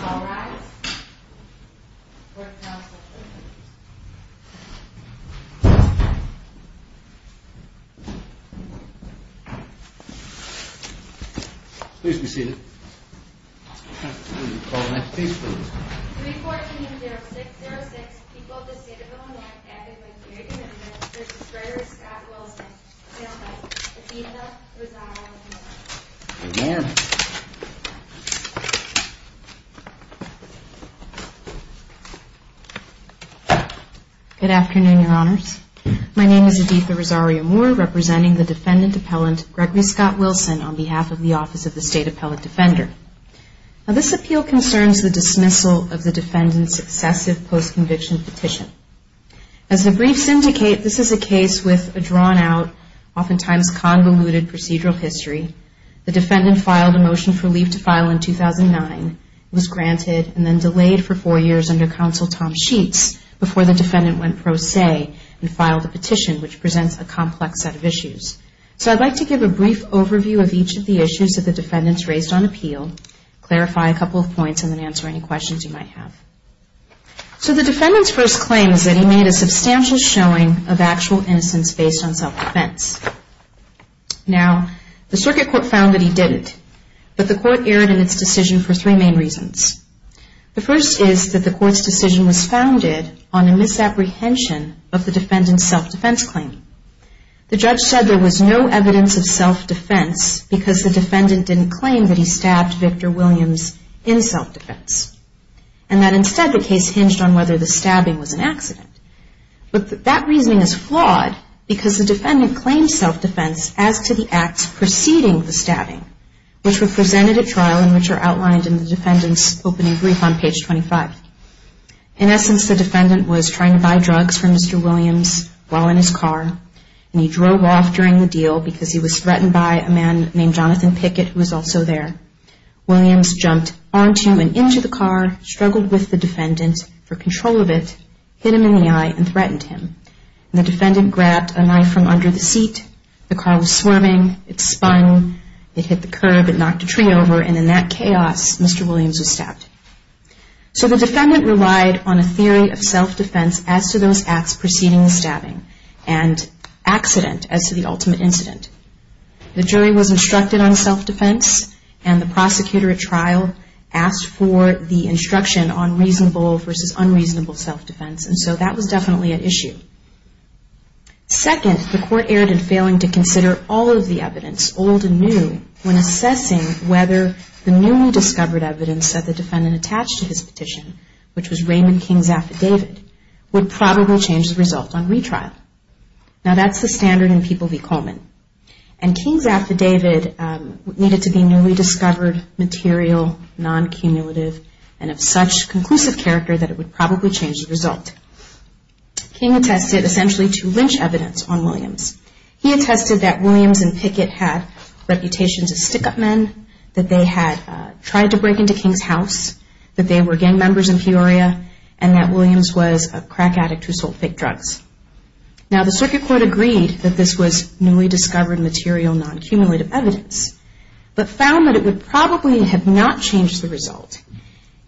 All rise. Court is now in session. Please be seated. 3-14-06-06 People of the State of Illinois Advocate for Human Rights Mr. Schroeder, Scott Wilson Mr. Adidas, Rosario Good morning. Good afternoon, Your Honors. My name is Aditha Rosario-Moore, representing the defendant appellant, Gregory Scott Wilson, on behalf of the Office of the State Appellant Defender. This appeal concerns the dismissal of the defendant's successive post-conviction petition. As a brief syndicate, this is a case with a drawn-out, oftentimes convoluted procedural history. with a drawn-out, oftentimes convoluted procedural history. The defendant filed a motion for leave to file in 2009. The motion was granted and then delayed for four years under Counsel Tom Sheets before the defendant went pro se and filed a petition, which presents a complex set of issues. So I'd like to give a brief overview of each of the issues that the defendants raised on appeal, clarify a couple of points, and then answer any questions you might have. So the defendant's first claim is that he made a substantial showing of actual innocence based on self-defense. Now, the Circuit Court found that he didn't. But the court erred in its decision for three main reasons. The first is that the court's decision was founded on a misapprehension of the defendant's self-defense claim. The judge said there was no evidence of self-defense because the defendant didn't claim that he stabbed Victor Williams in self-defense, and that instead the case hinged on whether the stabbing was an accident. But that reasoning is flawed because the defendant claimed self-defense as to the acts preceding the stabbing, which were presented at trial and which are outlined in the defendant's opening brief on page 25. In essence, the defendant was trying to buy drugs from Mr. Williams while in his car, and he drove off during the deal because he was threatened by a man named Jonathan Pickett, who was also there. Williams jumped onto and into the car, struggled with the defendant for control of it, hit him in the eye, and threatened him. The defendant grabbed a knife from under the seat, the car was swarming, it spun, it hit the curb, it knocked a tree over, and in that chaos, Mr. Williams was stabbed. So the defendant relied on a theory of self-defense as to those acts preceding the stabbing and accident as to the ultimate incident. The jury was instructed on self-defense, and the prosecutor at trial asked for the instruction on reasonable versus unreasonable self-defense, and so that was definitely an issue. Second, the court erred in failing to consider all of the evidence, old and new, when assessing whether the newly discovered evidence that the defendant attached to his petition, which was Raymond King's affidavit, would probably change the result on retrial. Now that's the standard in People v. Coleman, and King's affidavit needed to be newly discovered material, non-cumulative, and of such conclusive character that it would probably change the result. King attested essentially to lynch evidence on Williams. He attested that Williams and Pickett had reputations as stick-up men, that they had tried to break into King's house, that they were gang members in Peoria, and that Williams was a crack addict who sold fake drugs. Now the circuit court agreed that this was newly discovered material, non-cumulative evidence, but found that it would probably have not changed the result,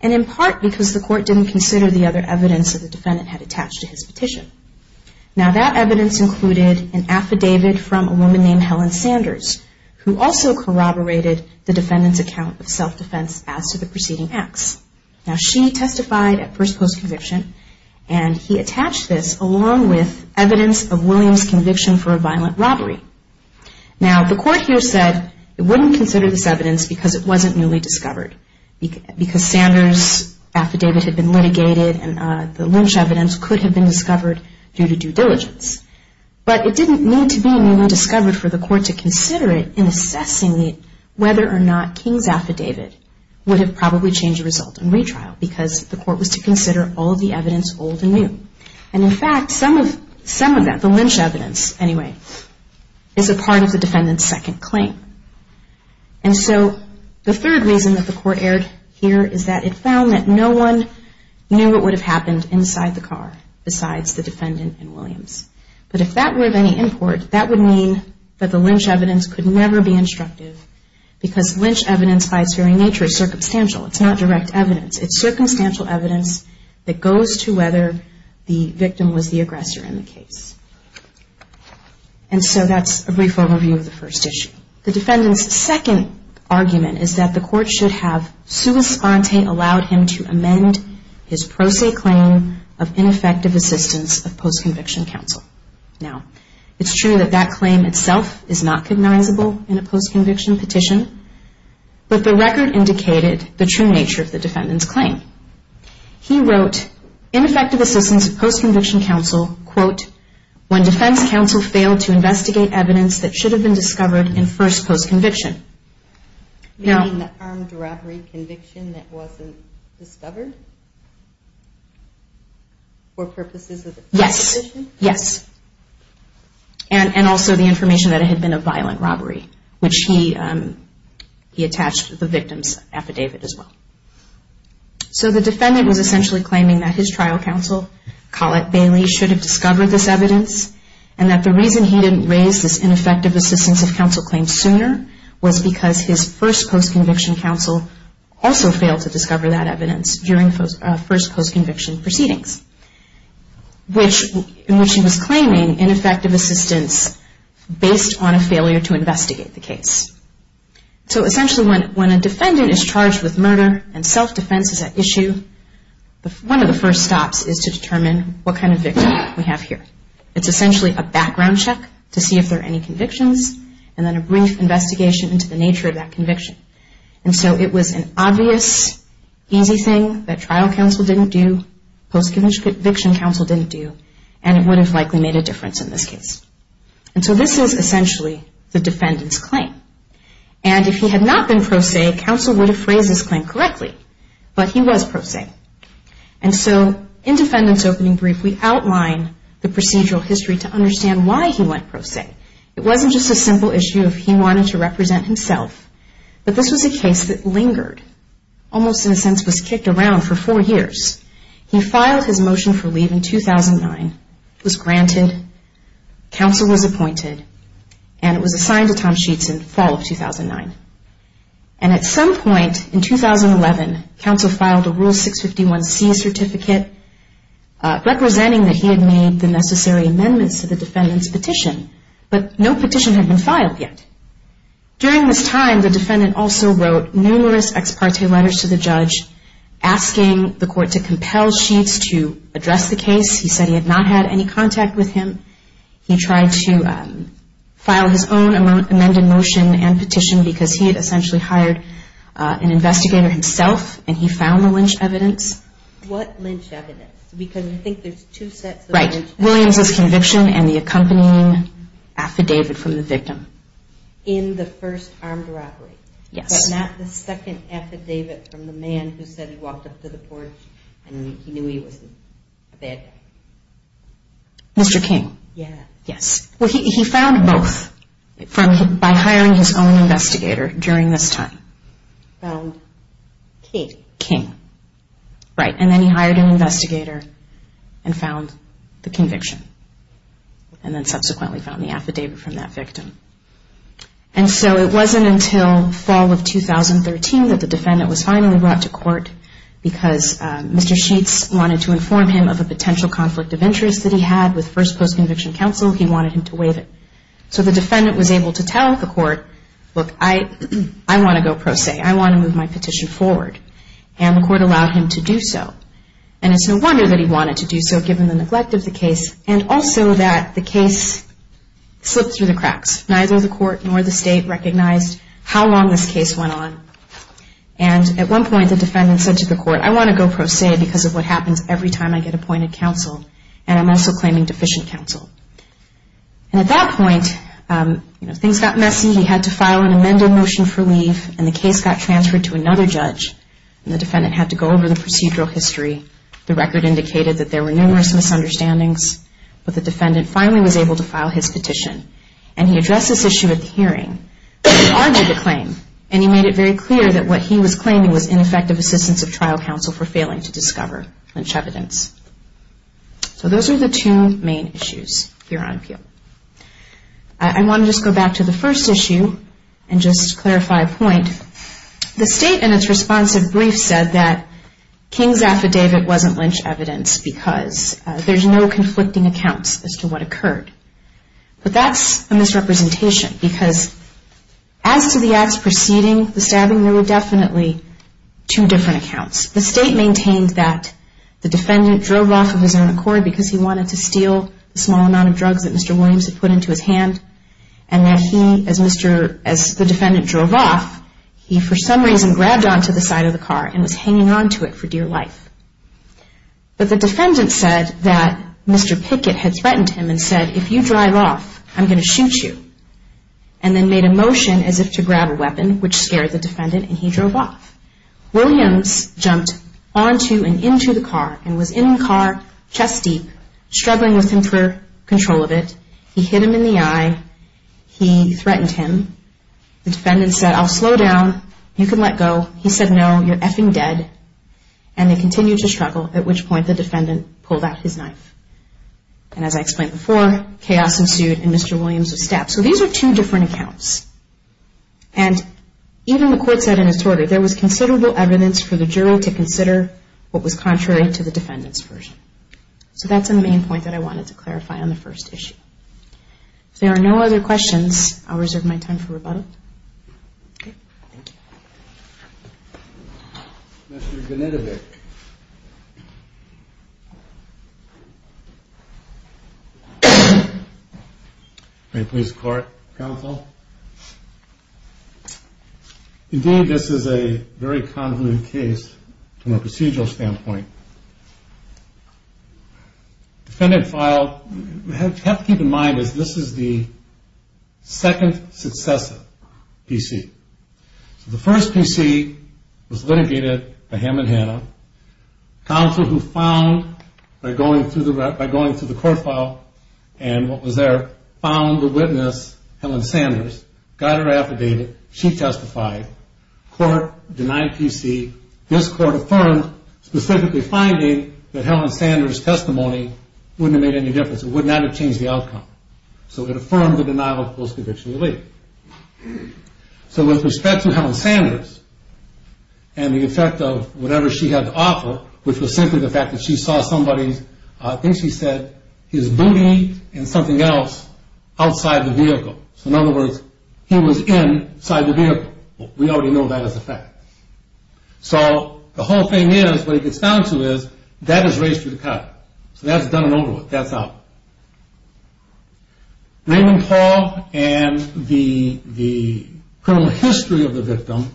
and in part because the court didn't consider the other evidence that the defendant had attached to his petition. Now that evidence included an affidavit from a woman named Helen Sanders, who also corroborated the defendant's account of self-defense as to the preceding acts. Now she testified at first post conviction, and he attached this along with evidence of Williams' conviction for a violent robbery. Now the court here said it wouldn't consider this evidence because it wasn't newly discovered, because Sanders' affidavit had been litigated, and the Lynch evidence could have been discovered due to due diligence. But it didn't need to be newly discovered for the court to consider it in assessing whether or not King's affidavit would have probably changed the result in retrial, because the court was to consider all the evidence old and new. And in fact, some of that, the Lynch evidence anyway, is a part of the defendant's second claim. And so, the third reason that the court aired here is that it found that no one knew what would have happened inside the car besides the defendant and Williams. But if that were of any import, that would mean that the Lynch evidence could never be instructive, because Lynch evidence by its very nature is circumstantial. It's not direct evidence. It's circumstantial evidence that goes to whether the victim was the aggressor in the case. And so that's a brief overview of the first issue. The defendant's second argument is that the court should have sui sponte allowed him to amend his pro se claim of ineffective assistance of post-conviction counsel. Now, it's true that that claim itself is not cognizable in a post-conviction petition, but the record indicated the true nature of the defendant's claim. He wrote, ineffective assistance of post-conviction counsel, quote, when defense counsel failed to investigate evidence that should have been discovered in first post-conviction. You mean the armed robbery conviction that wasn't discovered? Yes. Yes. And also the information that it had been a violent robbery, which he attached to the victim's affidavit as well. So the defendant was essentially claiming that his trial counsel, Collette Bailey, should have discovered this evidence, and that the reason he didn't raise this ineffective assistance of counsel claim sooner was because his first post-conviction counsel also failed to discover that evidence during first post-conviction proceedings, in which he was claiming ineffective assistance based on a failure to investigate the case. So essentially, when a defendant is charged with murder and self-defense is at issue, one of the first stops is to determine what kind of victim we have here. It's essentially a background check to see if there are any convictions, and then a brief investigation into the nature of that conviction. And so it was an obvious, easy thing that trial counsel didn't do, post-conviction counsel didn't do, and it would have likely made a difference in this case. And so this is essentially the defendant's claim. And if he had not been pro se, counsel would have phrased this claim correctly, but he was pro se. And so, in Defendant's Opening Brief, we outline the procedural history to understand why he went pro se. It wasn't just a simple issue of he wanted to represent himself, but this was a case that lingered, almost in a sense was kicked around for four years. He filed his motion for leave in 2009, was granted, counsel was appointed, and it was assigned to Tom Sheets in fall of 2009. And at some 11, counsel filed a Rule 651C certificate representing that he had made the necessary amendments to the defendant's petition. But no petition had been filed yet. During this time, the defendant also wrote numerous ex parte letters to the judge asking the court to compel Sheets to address the case. He said he had not had any contact with him. He tried to file his own amended motion and petition because he had essentially hired an investigator himself and he found the lynch evidence. What lynch evidence? Because I think there's two sets of lynch evidence. Right. Williams' conviction and the accompanying affidavit from the victim. In the first armed robbery. Yes. But not the second affidavit from the man who said he walked up to the porch and he knew he was a bad guy. Mr. King. Yes. Well, he found both by hiring his own investigator during this time. Found King. Right. And then he hired an investigator and found the conviction. And then subsequently found the affidavit from that victim. And so it wasn't until fall of 2013 that the defendant was finally brought to court because Mr. Sheets wanted to inform him of a potential conflict of interest that he had with First Post Conviction Council. He wanted him to waive it. So the defendant was able to tell the court, look, I want to go pro se. I want to move my petition forward. And the court allowed him to do so. And it's no wonder that he wanted to do so given the neglect of the case and also that the case slipped through the cracks. Neither the court nor the state recognized how long this case went on. And at one point the defendant said to the court, I want to go pro se because of what happens every time I get appointed counsel. And I'm also claiming deficient counsel. And at that point things got messy. He had to file an amended motion for leave and the case got transferred to another judge and the defendant had to go over the procedural history. The record indicated that there were numerous misunderstandings but the defendant finally was able to file his petition. And he addressed this issue at the hearing. He argued the claim and he made it very clear that what he was claiming was ineffective assistance of trial counsel for failing to discover linch evidence. So those are the two main issues here on appeal. I want to just go back to the first issue and just clarify a point. The state in its responsive brief said that King's affidavit wasn't lynch evidence because there's no conflicting accounts as to what occurred. But that's a misrepresentation because as to the acts preceding the stabbing, there were definitely two different accounts. The state maintained that the defendant drove off of his own accord because he wanted to steal a small amount of drugs that Mr. Williams had put into his hand and that he, as the defendant drove off, he for some reason grabbed onto the side of the car and was hanging onto it for dear life. But the defendant said that Mr. Pickett had threatened him and said, if you drive off, I'm going to shoot you. And then made a motion as if to grab a weapon, which scared the defendant, and he drove off. Williams jumped onto and into the car and was in the car, chest deep, struggling with him for control of it. He hit him in the eye. He threatened him. The defendant said, I'll slow down. You can let go. He said, no, you're effing dead. And they continued to struggle, at which point the defendant pulled out his knife. And as I explained before, chaos ensued and Mr. Williams was stabbed. So these are two different accounts. And even the court said in its order, there was considerable evidence for the juror to consider what was contrary to the defendant's version. So that's the main point that I wanted to clarify on the first issue. If there are no other questions, I'll reserve my time for rebuttal. Okay. Thank you. Mr. Genetovic. Any points of court? Counsel? Indeed, this is a very convoluted case from a procedural standpoint. The defendant filed, you have to keep in mind, this is the second successive PC. The first PC was litigated by him and Hannah. Counsel who found by going through the court file and what was there found the witness, Helen Sanders, got her affidavit. She testified. Court denied PC. This court affirmed specifically finding that Helen Sanders' testimony wouldn't have made any difference. It would not have changed the outcome. So it affirmed the denial of post-conviction relief. So with respect to Helen Sanders and the effect of whatever she had to offer, which was simply the fact that she saw somebody's things she said, his outside the vehicle. So in other words, he was inside the vehicle. We already know that as a fact. So, the whole thing is, what it gets down to is, that is raised through the cut. So that's done and over with. That's out. Raymond Paul and the criminal history of the victim.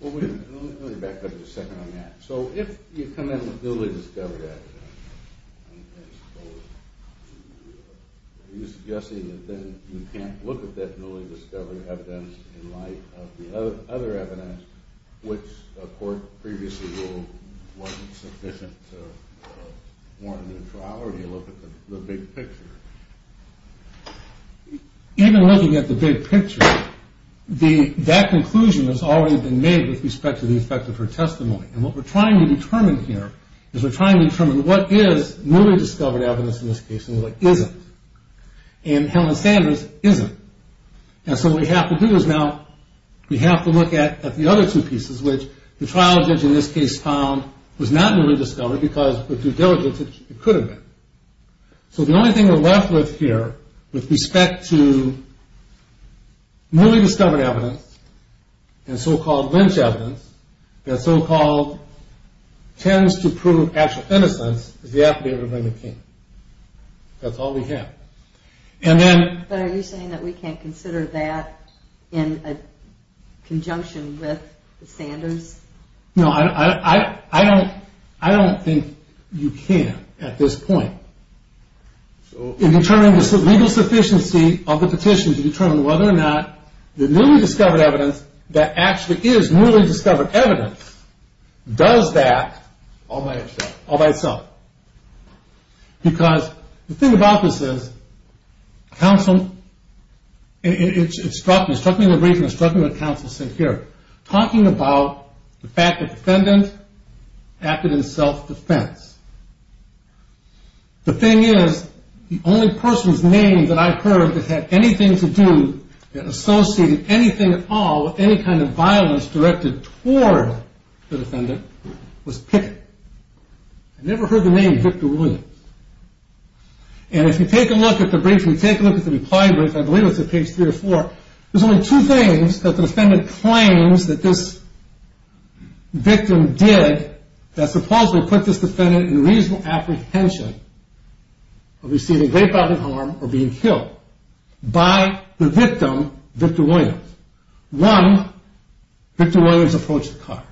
Let me back up a second on that. So if you come in with newly discovered evidence, are you suggesting that then you can't look at that newly discovered evidence in light of the other evidence which a court previously ruled wasn't sufficient to warrant a new trial, or do you look at the big picture? Even looking at the big picture, that conclusion has already been made with respect to the effect of her testimony. And what we're trying to determine here is we're trying to determine what is newly discovered evidence in this case and what isn't. And Helen Sanders isn't. And so what we have to do is now we have to look at the other two pieces which the trial judge in this case found was not newly discovered because with due diligence it could have been. So the only thing we're left with here with respect to newly discovered evidence, and so-called lynch evidence, that so-called tends to prove actual innocence is the affidavit of Raymond King. That's all we have. But are you saying that we can't consider that in a conjunction with Sanders? No, I don't think you can at this point. In determining the legal sufficiency of the petition to determine whether or not the newly discovered evidence that actually is newly discovered evidence does that all by itself. Because the thing about this is counsel it struck me, it struck me in the briefing, it struck me what counsel said here. Talking about the fact that defendant acted in self-defense. The thing is, the only person's name that I heard that had anything to do, that associated anything at all with any kind of the defendant, was Pickett. I never heard the name Victor Williams. And if you take a look at the brief, if you take a look at the reply brief, I believe it's at page 3 or 4, there's only two things that the defendant claims that this victim did that supposedly put this defendant in reasonable apprehension of receiving rape out of harm or being killed by the victim, Victor Williams. One, Victor Williams approached the car.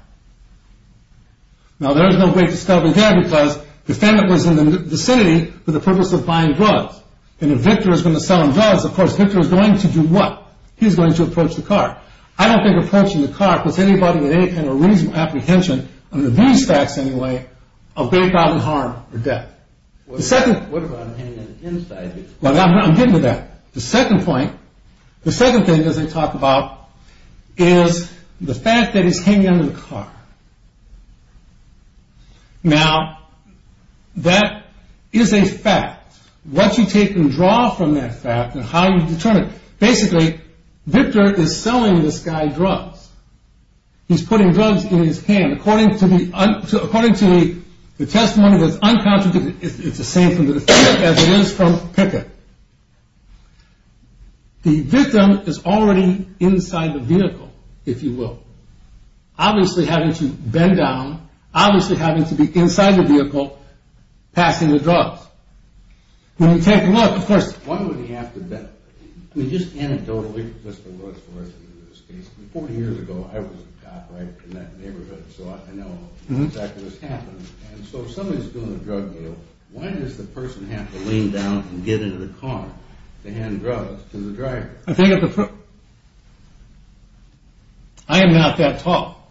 Now there's no great discovery there because the defendant was in the vicinity for the purpose of buying drugs. And if Victor is going to sell him drugs, of course, Victor is going to do what? He's going to approach the car. I don't think approaching the car puts anybody with any kind of reasonable apprehension under these facts anyway of rape out of harm or death. The second... I'm getting to that. The second point, the second thing that they talk about is the fact that he's hanging under the car. Now that is a fact. What you take and draw from that fact and how you determine it. Basically, Victor is selling this guy drugs. He's putting drugs in his hand. According to the testimony that's unconfirmed, it's the same from the defendant as it is from Pickett. The victim is already inside the vehicle, if you will. Obviously having to bend down, obviously having to be inside the vehicle passing the drugs. When you take a look, of course... Why would he have to bend down? Just anecdotally, Mr. Lewis, 40 years ago, I was a cop in that neighborhood, so I know exactly what's happening. So if somebody's doing a drug deal, why does the person have to lean down and get into the car to hand drugs to the driver? I am not that tall.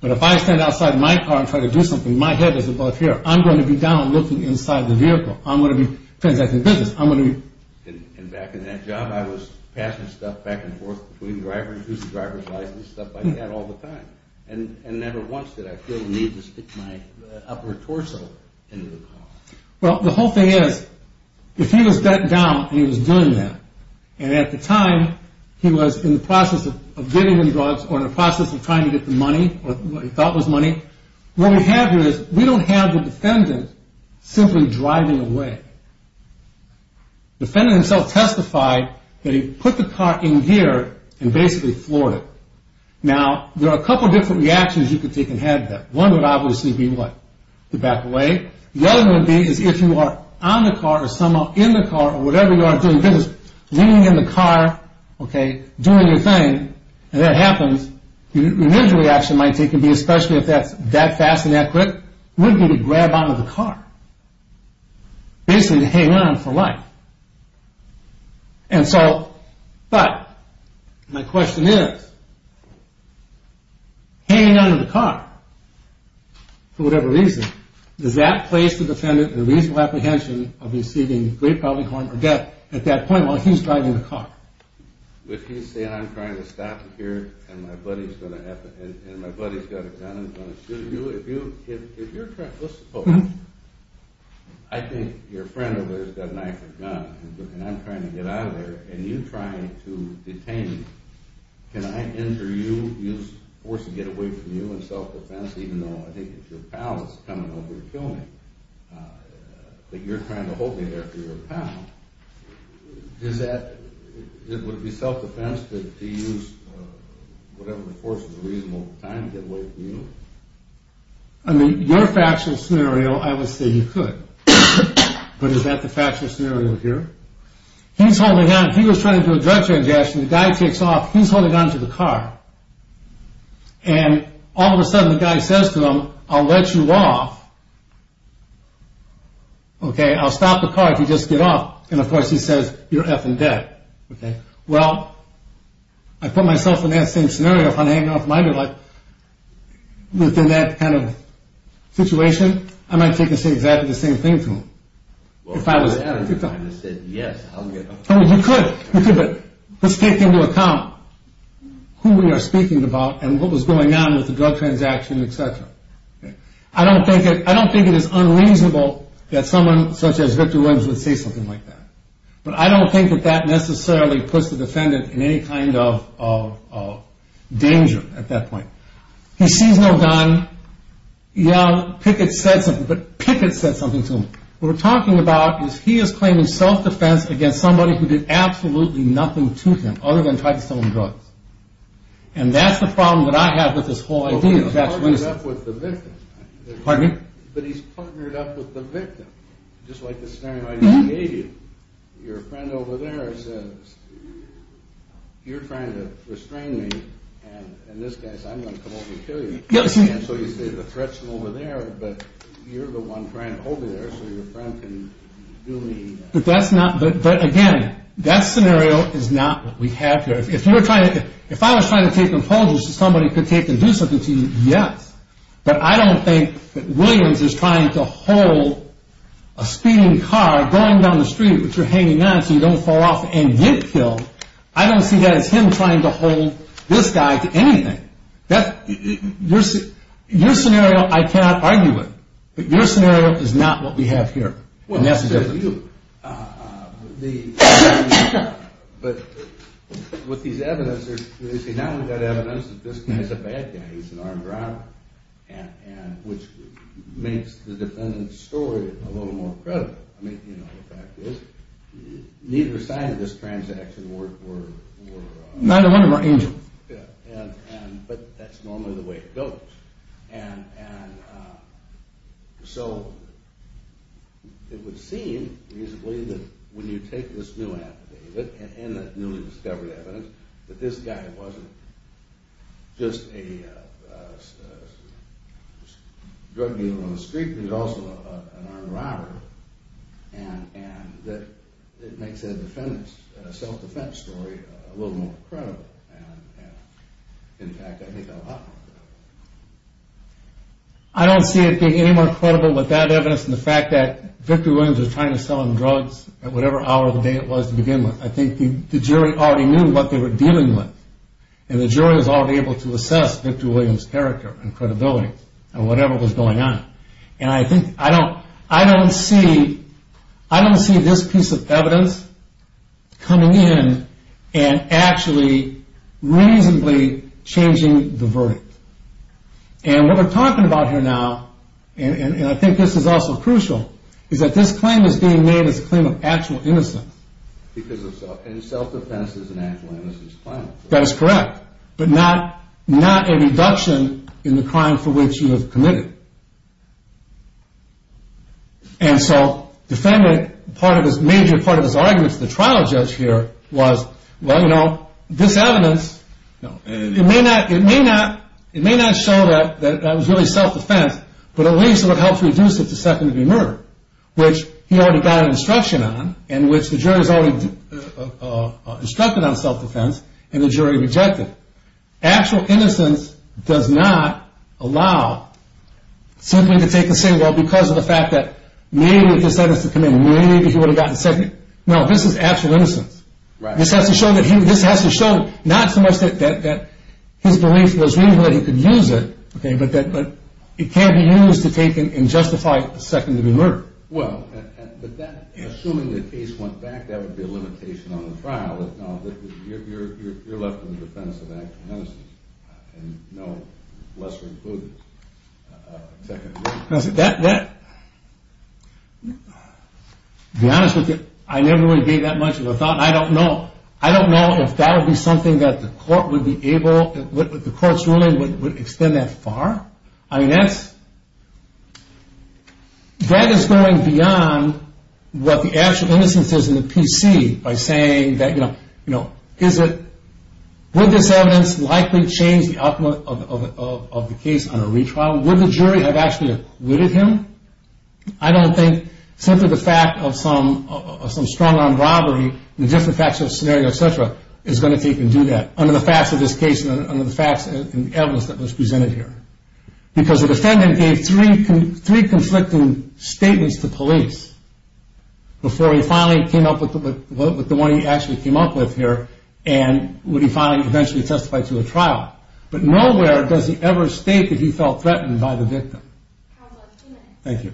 But if I stand outside my car and try to do something, my head is above here. I'm going to be down looking inside the vehicle. I'm going to be transacting business. I'm going to be... And back in that job, I was passing stuff back and forth between drivers, who's the driver's license, stuff like that all the time. And never once did I feel the need to stick my upper torso into the car. Well, the whole thing is, if he was bent down and he was doing that, and at the time he was in the process of giving him drugs or in the process of trying to get the money or what he thought was money, what we have here is, we don't have the defendant simply driving away. The defendant himself testified that he put the car in gear and basically floored it. Now, there are a couple different reactions you could take if you had that. One would obviously be what? To back away. The other would be is if you are on the car or somehow in the car or whatever you are doing business leaning in the car, doing your thing, and that happens, your next reaction might be, especially if that's that fast and that quick, would be to grab onto the car. Basically to hang on for life. And so, but, my question is hanging onto the car for whatever reason, does that place the defendant in a reasonable apprehension of receiving great public harm or death at that point while he's driving the car? If he's saying, I'm trying to stop you here and my buddy's got a gun and he's going to shoot you, if you're trying, let's suppose I think your friend over there's got a knife and gun and I'm trying to get out of there and you're trying to detain me, can I injure you, use force to get away from you and self-defense even though I think if your pal is coming over to kill me, that you're trying to hold me there for your pal, would it be self-defense to use whatever force is reasonable at the time to get away from you? I mean, your factual scenario, I would say you could. But is that the factual scenario here? He's holding out, he was trying to do a car transaction, the guy takes off, he's holding on to the car and all of a sudden the guy says to him, I'll let you off I'll stop the car if you just get off and of course he says, you're effing dead. Well, I put myself in that same scenario if I'm hanging off of my good life within that kind of situation, I might take and say exactly the same thing to him. If I was... You could, but let's take into account who we are speaking about and what was going on with the drug transaction, etc. I don't think it is unreasonable that someone such as Victor Williams would say something like that. But I don't think that that necessarily puts the defendant in any kind of danger at that point. He sees no gun, young, Pickett said something but Pickett said something to him. What we're talking about is he is claiming self-defense against somebody who did absolutely nothing to him other than try to sell him drugs. And that's the problem that I have with this whole idea. Well, he's partnered up with the victim. Pardon me? But he's partnered up with the victim. Just like the scenario I just gave you. Your friend over there says, you're trying to restrain me and this guy says I'm going to come over and kill you. So you say the threat's from over there but you're the one trying to hold me there so your friend can do me any harm. But that's not, but again, that scenario is not what we have here. If you're trying to, if I was trying to take an apology so somebody could take and do something to you, yes. But I don't think that Williams is trying to hold a speeding car going down the street which you're hanging on so you don't fall off and get killed. I don't see that as him trying to hold this guy to anything. Your scenario, I cannot argue with, but your scenario is not what we have here. But with these evidence, now we've got evidence that this guy's a bad guy, he's an armed robber. And which makes the defendant's story a little more credible. The fact is, neither side of this transaction were... Neither one of them are angels. But that's normally the way it goes. And so it would seem reasonably that when you take this new evidence and that newly discovered evidence that this guy wasn't just a drug dealer on the street, but he was also an armed robber. And that it makes the defendant's self-defense story a little more credible. And in fact, I think a lot more credible. I don't see it being any more credible with that evidence and the fact that Victor Williams was trying to sell him drugs at whatever hour of the day it was to begin with. I think the jury already knew what they were dealing with. And the jury was already able to assess Victor Williams' character and credibility and whatever was going on. And I don't see this piece of evidence coming in and actually reasonably changing the verdict. And what we're talking about here now and I think this is also crucial is that this claim is being made as a claim of actual innocence. And self-defense is an actual innocence claim. That is correct. But not a reduction in the crime for which you have committed. And so the major part of his argument to the trial judge here was well, you know, this evidence it may not show that that was really self-defense, but at least it would help reduce it to second-degree murder. Which he already got an instruction on and which the jury has already instructed on self-defense and the jury rejected. Actual innocence does not allow simply to take a single because of the fact that maybe if this evidence had come in maybe he would have gotten second. No, this is actual innocence. This has to show not so much that his belief was reasonable that he could use it but that it can't be used to take and justify second-degree murder. Well, but that assuming the case went back that would be a limitation on the trial. You're left in the defense of actual innocence and no lesser-included second-degree murder. To be honest with you, I never really gave that much of a thought and I don't know if that would be something that the court would be able, the court's ruling would extend that far. I mean, that's that is going beyond what the actual innocence is in the PC by saying that, you know, is it would this evidence likely change the outcome of the case on a retrial? Would the jury have actually acquitted him? I don't think simply the fact of some strong-armed robbery, the different facts of the scenario, etc. is going to take and do that under the facts of this case and under the facts in the evidence that was presented here. Because the defendant gave three conflicting statements to police before he finally came up with the one he actually came up with here and would he finally eventually testify to a trial. But nowhere does he ever state that he felt threatened by the victim. Thank you.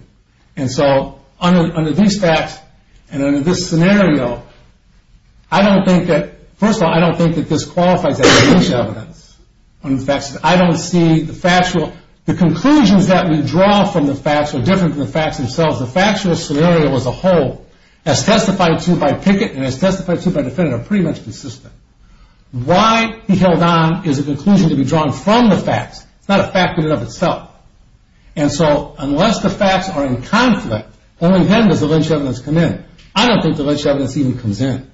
And so, under these facts and under this scenario, I don't think that, first of all, I don't think that this qualifies as false evidence on the facts. I don't see the factual the conclusions that we draw from the facts are different from the facts themselves. The factual scenario as a whole as testified to by Pickett and as testified to by the defendant are pretty much consistent. Why he held on is a conclusion to be drawn from the facts itself. And so, unless the facts are in conflict, only then does the lynch evidence come in. I don't think the lynch evidence even comes in.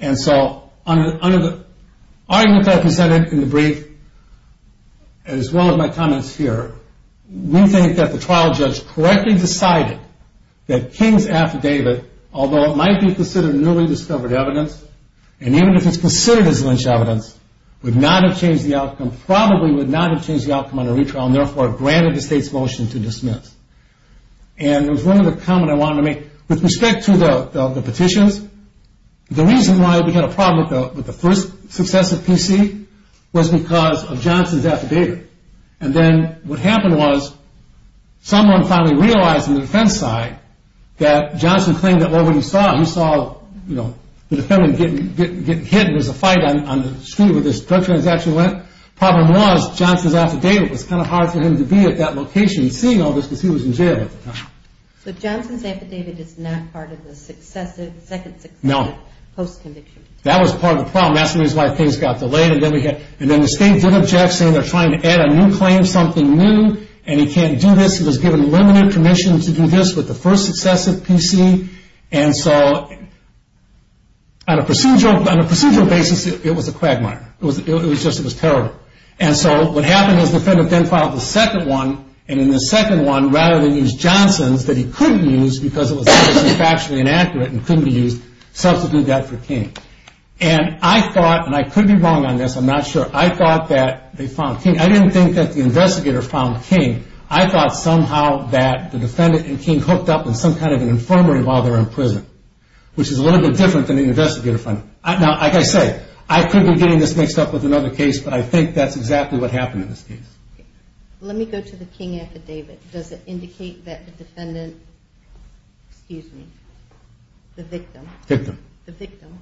And so, under the argument that I presented in the brief, as well as my comments here, we think that the trial judge correctly decided that King's affidavit, although and even if it's considered as lynch evidence, would not have changed the outcome, probably would not have changed the outcome on the retrial and therefore granted the state's motion to dismiss. And there was one other comment I wanted to make. With respect to the petitions, the reason why we had a problem with the first successive PC was because of Johnson's affidavit. And then, what happened was, someone finally realized on the defense side that Johnson claimed that what we saw, he saw, you know, the defendant getting hit, there was a fight on the street where this drug transaction went. The problem was, Johnson's affidavit was kind of hard for him to be at that location seeing all this because he was in jail at the time. So Johnson's affidavit is not part of the second successive post-conviction? No. That was part of the problem. That's the reason why things got delayed. And then the state did object, saying they're trying to add a new claim, something new, and he can't do this. He was given limited permission to do this with the first successive PC. And so, on a procedural basis, it was a quagmire. It was terrible. And so, what happened was, the defendant then filed the second one, and in the second one, rather than use Johnson's that he couldn't use because it was factually inaccurate and couldn't be used, substituted that for King. And I thought, and I could be wrong on this, I'm not sure, I thought that they found King. I didn't think that the investigator found King. I thought somehow that the defendant and King hooked up in some kind of which is a little bit different than the investigator finding. Now, like I said, I could be getting this mixed up with another case, but I think that's exactly what happened in this case. Let me go to the King affidavit. Does it indicate that the defendant excuse me the victim the victim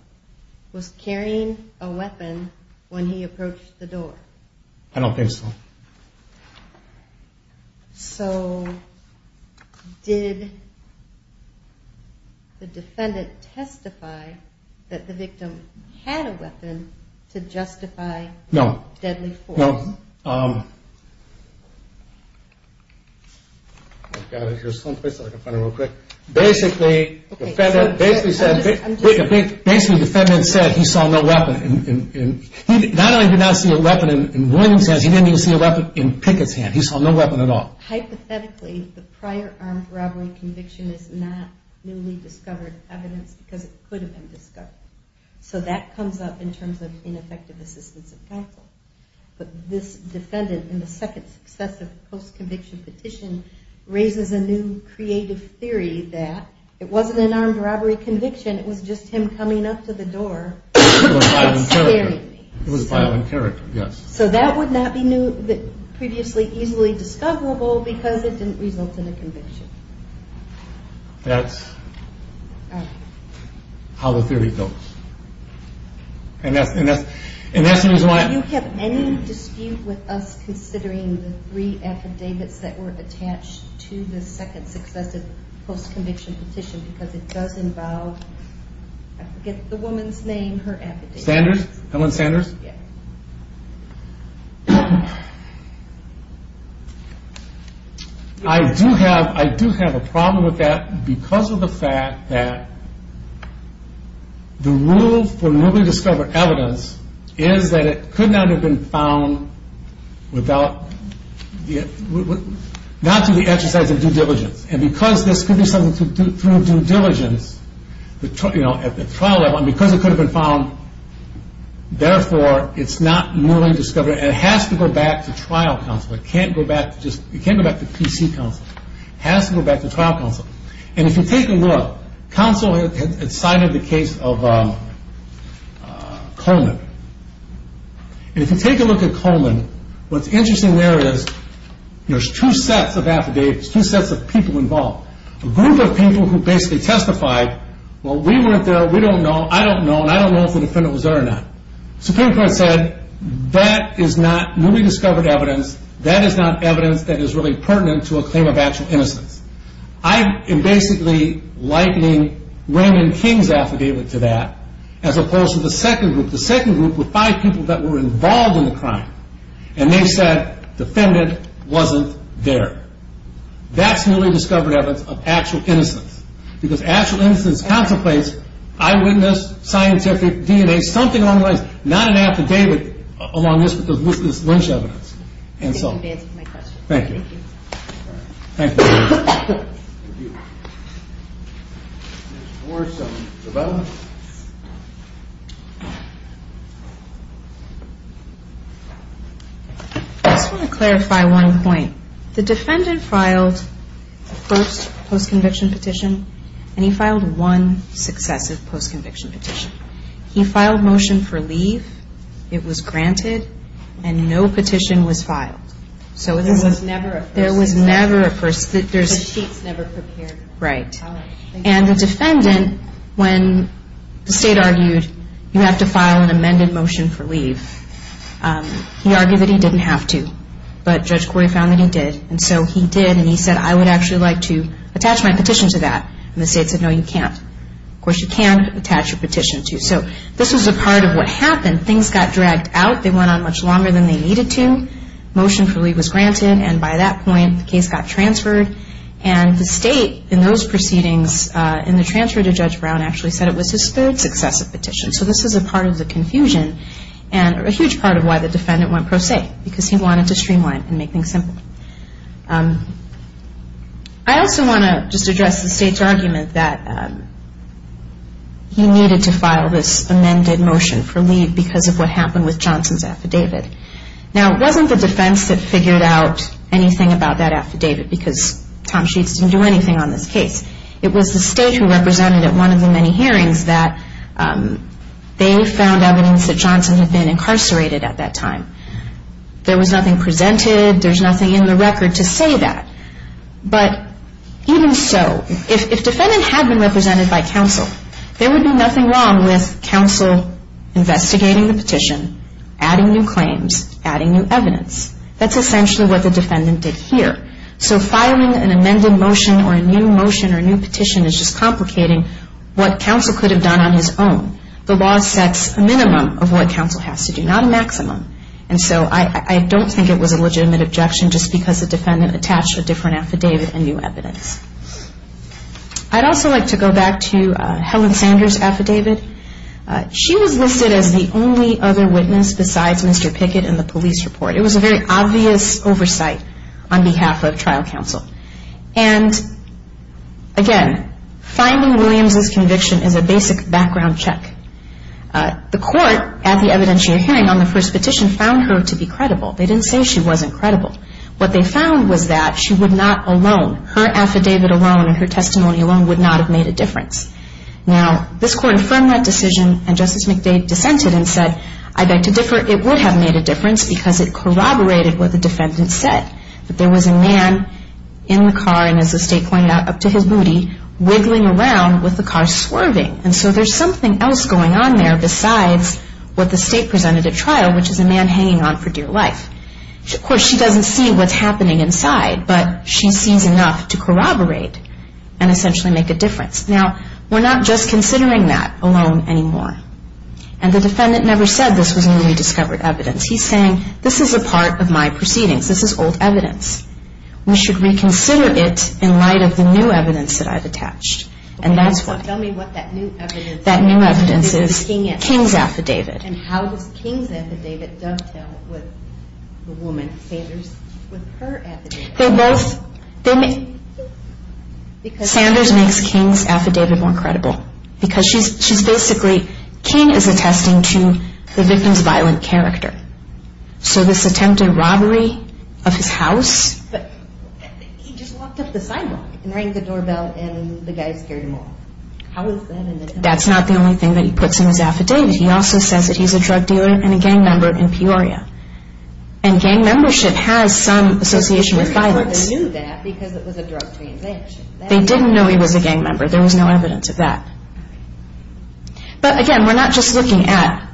was carrying a weapon when he approached the door? I don't think so. So, did did the defendant testify that the victim had a weapon to justify deadly force? No. Basically basically basically the defendant said he saw no weapon. Not only did he not see a weapon in Boylan's hands, he didn't even see a weapon in Pickett's hand. He saw no weapon at all. Hypothetically, the prior armed robbery conviction is not newly discovered evidence because it could have been discovered. So that comes up in terms of ineffective assistance of counsel. But this defendant in the second successive post-conviction petition raises a new creative theory that it wasn't an armed robbery conviction, it was just him coming up to the door and carrying things. So that would not be previously easily discoverable because it didn't result in a conviction. That's how the theory goes. Do you have any dispute with us considering the three affidavits that were attached to the second successive post-conviction petition because it does involve I forget the woman's name, her affidavit. Sanders? Helen Sanders? I do have a problem with that because of the fact that the rule for newly discovered evidence is that it could not have been found without not through the exercise of due diligence. And because this could be something through due diligence at the trial level and because it could have been found therefore it's not it can't go back to trial council it can't go back to PC council it has to go back to trial council and if you take a look council had cited the case of Coleman and if you take a look at Coleman, what's interesting there is there's two sets of affidavits, two sets of people involved a group of people who basically testified, well we weren't there we don't know, I don't know, and I don't know if the defendant was there or not. The Supreme Court said that is not newly discovered evidence, that is not evidence that is really pertinent to a claim of actual innocence. I am basically likening Raymond King's affidavit to that as opposed to the second group. The second group were five people that were involved in the crime and they said defendant wasn't there. That's newly discovered evidence of actual innocence because actual innocence contemplates eyewitness, scientific, DNA something along those lines, not an affidavit along those lines and so thank you I just want to clarify one point, the defendant filed the first post conviction petition and he filed one successive post amended motion for leave it was granted and no petition was filed there was never a there was never a right and the defendant when the state argued you have to file an amended motion for leave he argued that he didn't have to but Judge Corey found that he did and so he did and he said I would actually like to attach my petition to that and the state said no you can't of course you can attach your petition to so this was a part of what happened things got dragged out, they went on much longer than they needed to, motion for leave was granted and by that point the case got transferred and the state in those proceedings in the transfer to Judge Brown actually said it was his third successive petition so this is a part of the confusion and a huge part of why the defendant went pro se because he wanted to streamline and make things simple I also want to just address the state's argument that he needed to file this amended motion for leave because of what happened with Johnson's affidavit now it wasn't the defense that figured out anything about that affidavit because Tom Sheets didn't do anything on this case it was the state who represented at one of the many hearings that they found evidence that Johnson had been incarcerated at that time there was nothing presented there was nothing in the record to say that but even so if defendant had been represented by counsel there would be nothing wrong with counsel investigating the petition adding new claims adding new evidence that's essentially what the defendant did here so filing an amended motion or a new motion or a new petition is just complicating what counsel could have done on his own. The law sets a minimum of what counsel has to do not a maximum and so I don't think it was a legitimate objection just because the defendant attached a different affidavit and new evidence I'd also like to go back to Helen Sanders affidavit she was listed as the only other witness besides Mr. Pickett in the police report. It was a very obvious oversight on behalf of trial counsel and again finding Williams' conviction is a basic background check the court at the evidentiary hearing on the first petition found her to be credible they didn't say she wasn't credible what they found was that she would not alone her affidavit alone and her testimony alone would not have made a difference now this court affirmed that decision and Justice McDade dissented and said I beg to differ, it would have made a difference because it corroborated what the defendant said, that there was a man in the car and as the state pointed out up to his booty, wiggling around with the car swerving and so there's something else going on there besides what the state presented at trial which is a man hanging on for dear life of course she doesn't see what's happening inside, but she sees enough to corroborate and essentially make a difference. Now, we're not just considering that alone anymore and the defendant never said this was newly discovered evidence, he's saying this is a part of my proceedings this is old evidence we should reconsider it in light of the new evidence that I've attached and that's what that new evidence is it's King's affidavit and how does King's affidavit dovetail with the woman, Sanders with her affidavit they both Sanders makes King's affidavit more credible because she's basically, King is attesting to the victim's violent character so this attempted robbery of his house he just walked up the sidewalk and rang the doorbell and the guy scared him off that's not the only thing that he puts in his affidavit, he also says that he's a drug dealer and a gang member in Peoria and gang membership has some association with violence they didn't know he was a gang member there was no evidence of that but again, we're not just looking at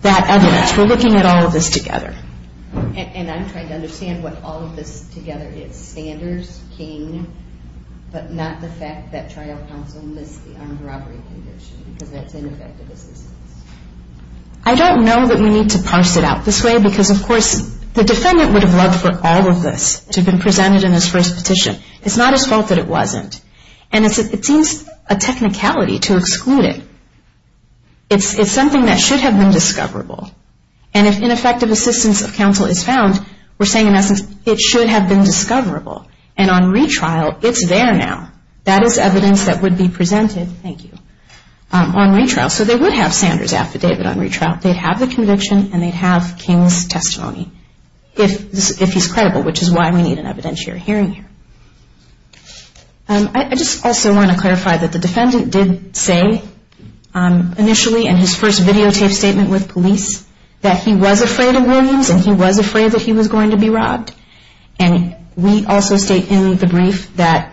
that evidence we're looking at all of this together and I'm trying to understand what all of this together is, Sanders King, but not the fact that trial counsel missed the armed robbery conviction because that's ineffective assistance I don't know that we need to parse it out this way because of course the defendant would have loved for all of this to have been presented in his first petition, it's not his fault that it wasn't, and it seems a technicality to exclude it it's something that should have been discoverable and if ineffective assistance of counsel is found, we're saying in essence it should have been discoverable and on retrial, it's there now that is evidence that would be presented thank you on retrial, so they would have Sanders affidavit on retrial, they'd have the conviction and they'd have King's testimony if he's credible, which is why we need an evidentiary hearing here I just also want to clarify that the defendant did say initially in his first videotaped statement with police that he was afraid of Williams and he was afraid that he was going to be robbed and we also state in the brief that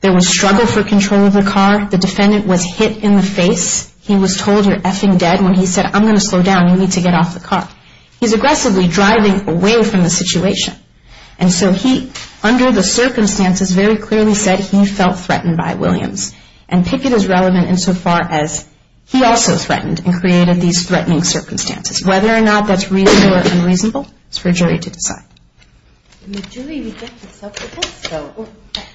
there was struggle for control of the car the defendant was hit in the face he was told, you're effing dead when he said, I'm going to slow down, you need to get off the car he's aggressively driving away from the situation and so he, under the circumstances very clearly said he felt threatened by Williams, and Pickett is relevant insofar as he also threatened and created these threatening circumstances whether or not that's reasonable or unreasonable it's for a jury to decide the jury rejected self defense though,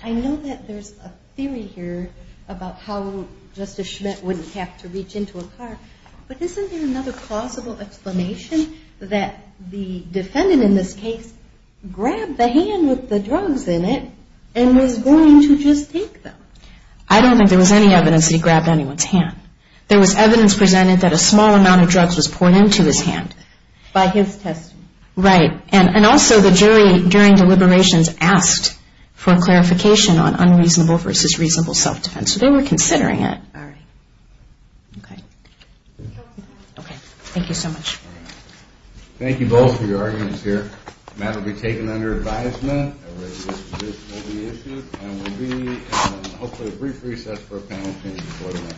I know that there's a theory here about how Justice Schmidt wouldn't have to reach into a car, but isn't there another plausible explanation that the defendant in this case grabbed the hand with the drugs in it, and was going to just take them I don't think there was any evidence that he grabbed anyone's hand there was evidence presented that a small amount of drugs was poured into his hand by his testimony right, and also the jury during deliberations asked for clarification on unreasonable versus reasonable self defense, so they were considering it alright okay thank you so much thank you both for your arguments here the matter will be taken under advisement a resolution will be issued and we'll be in hopefully a brief recess for a panel session thank you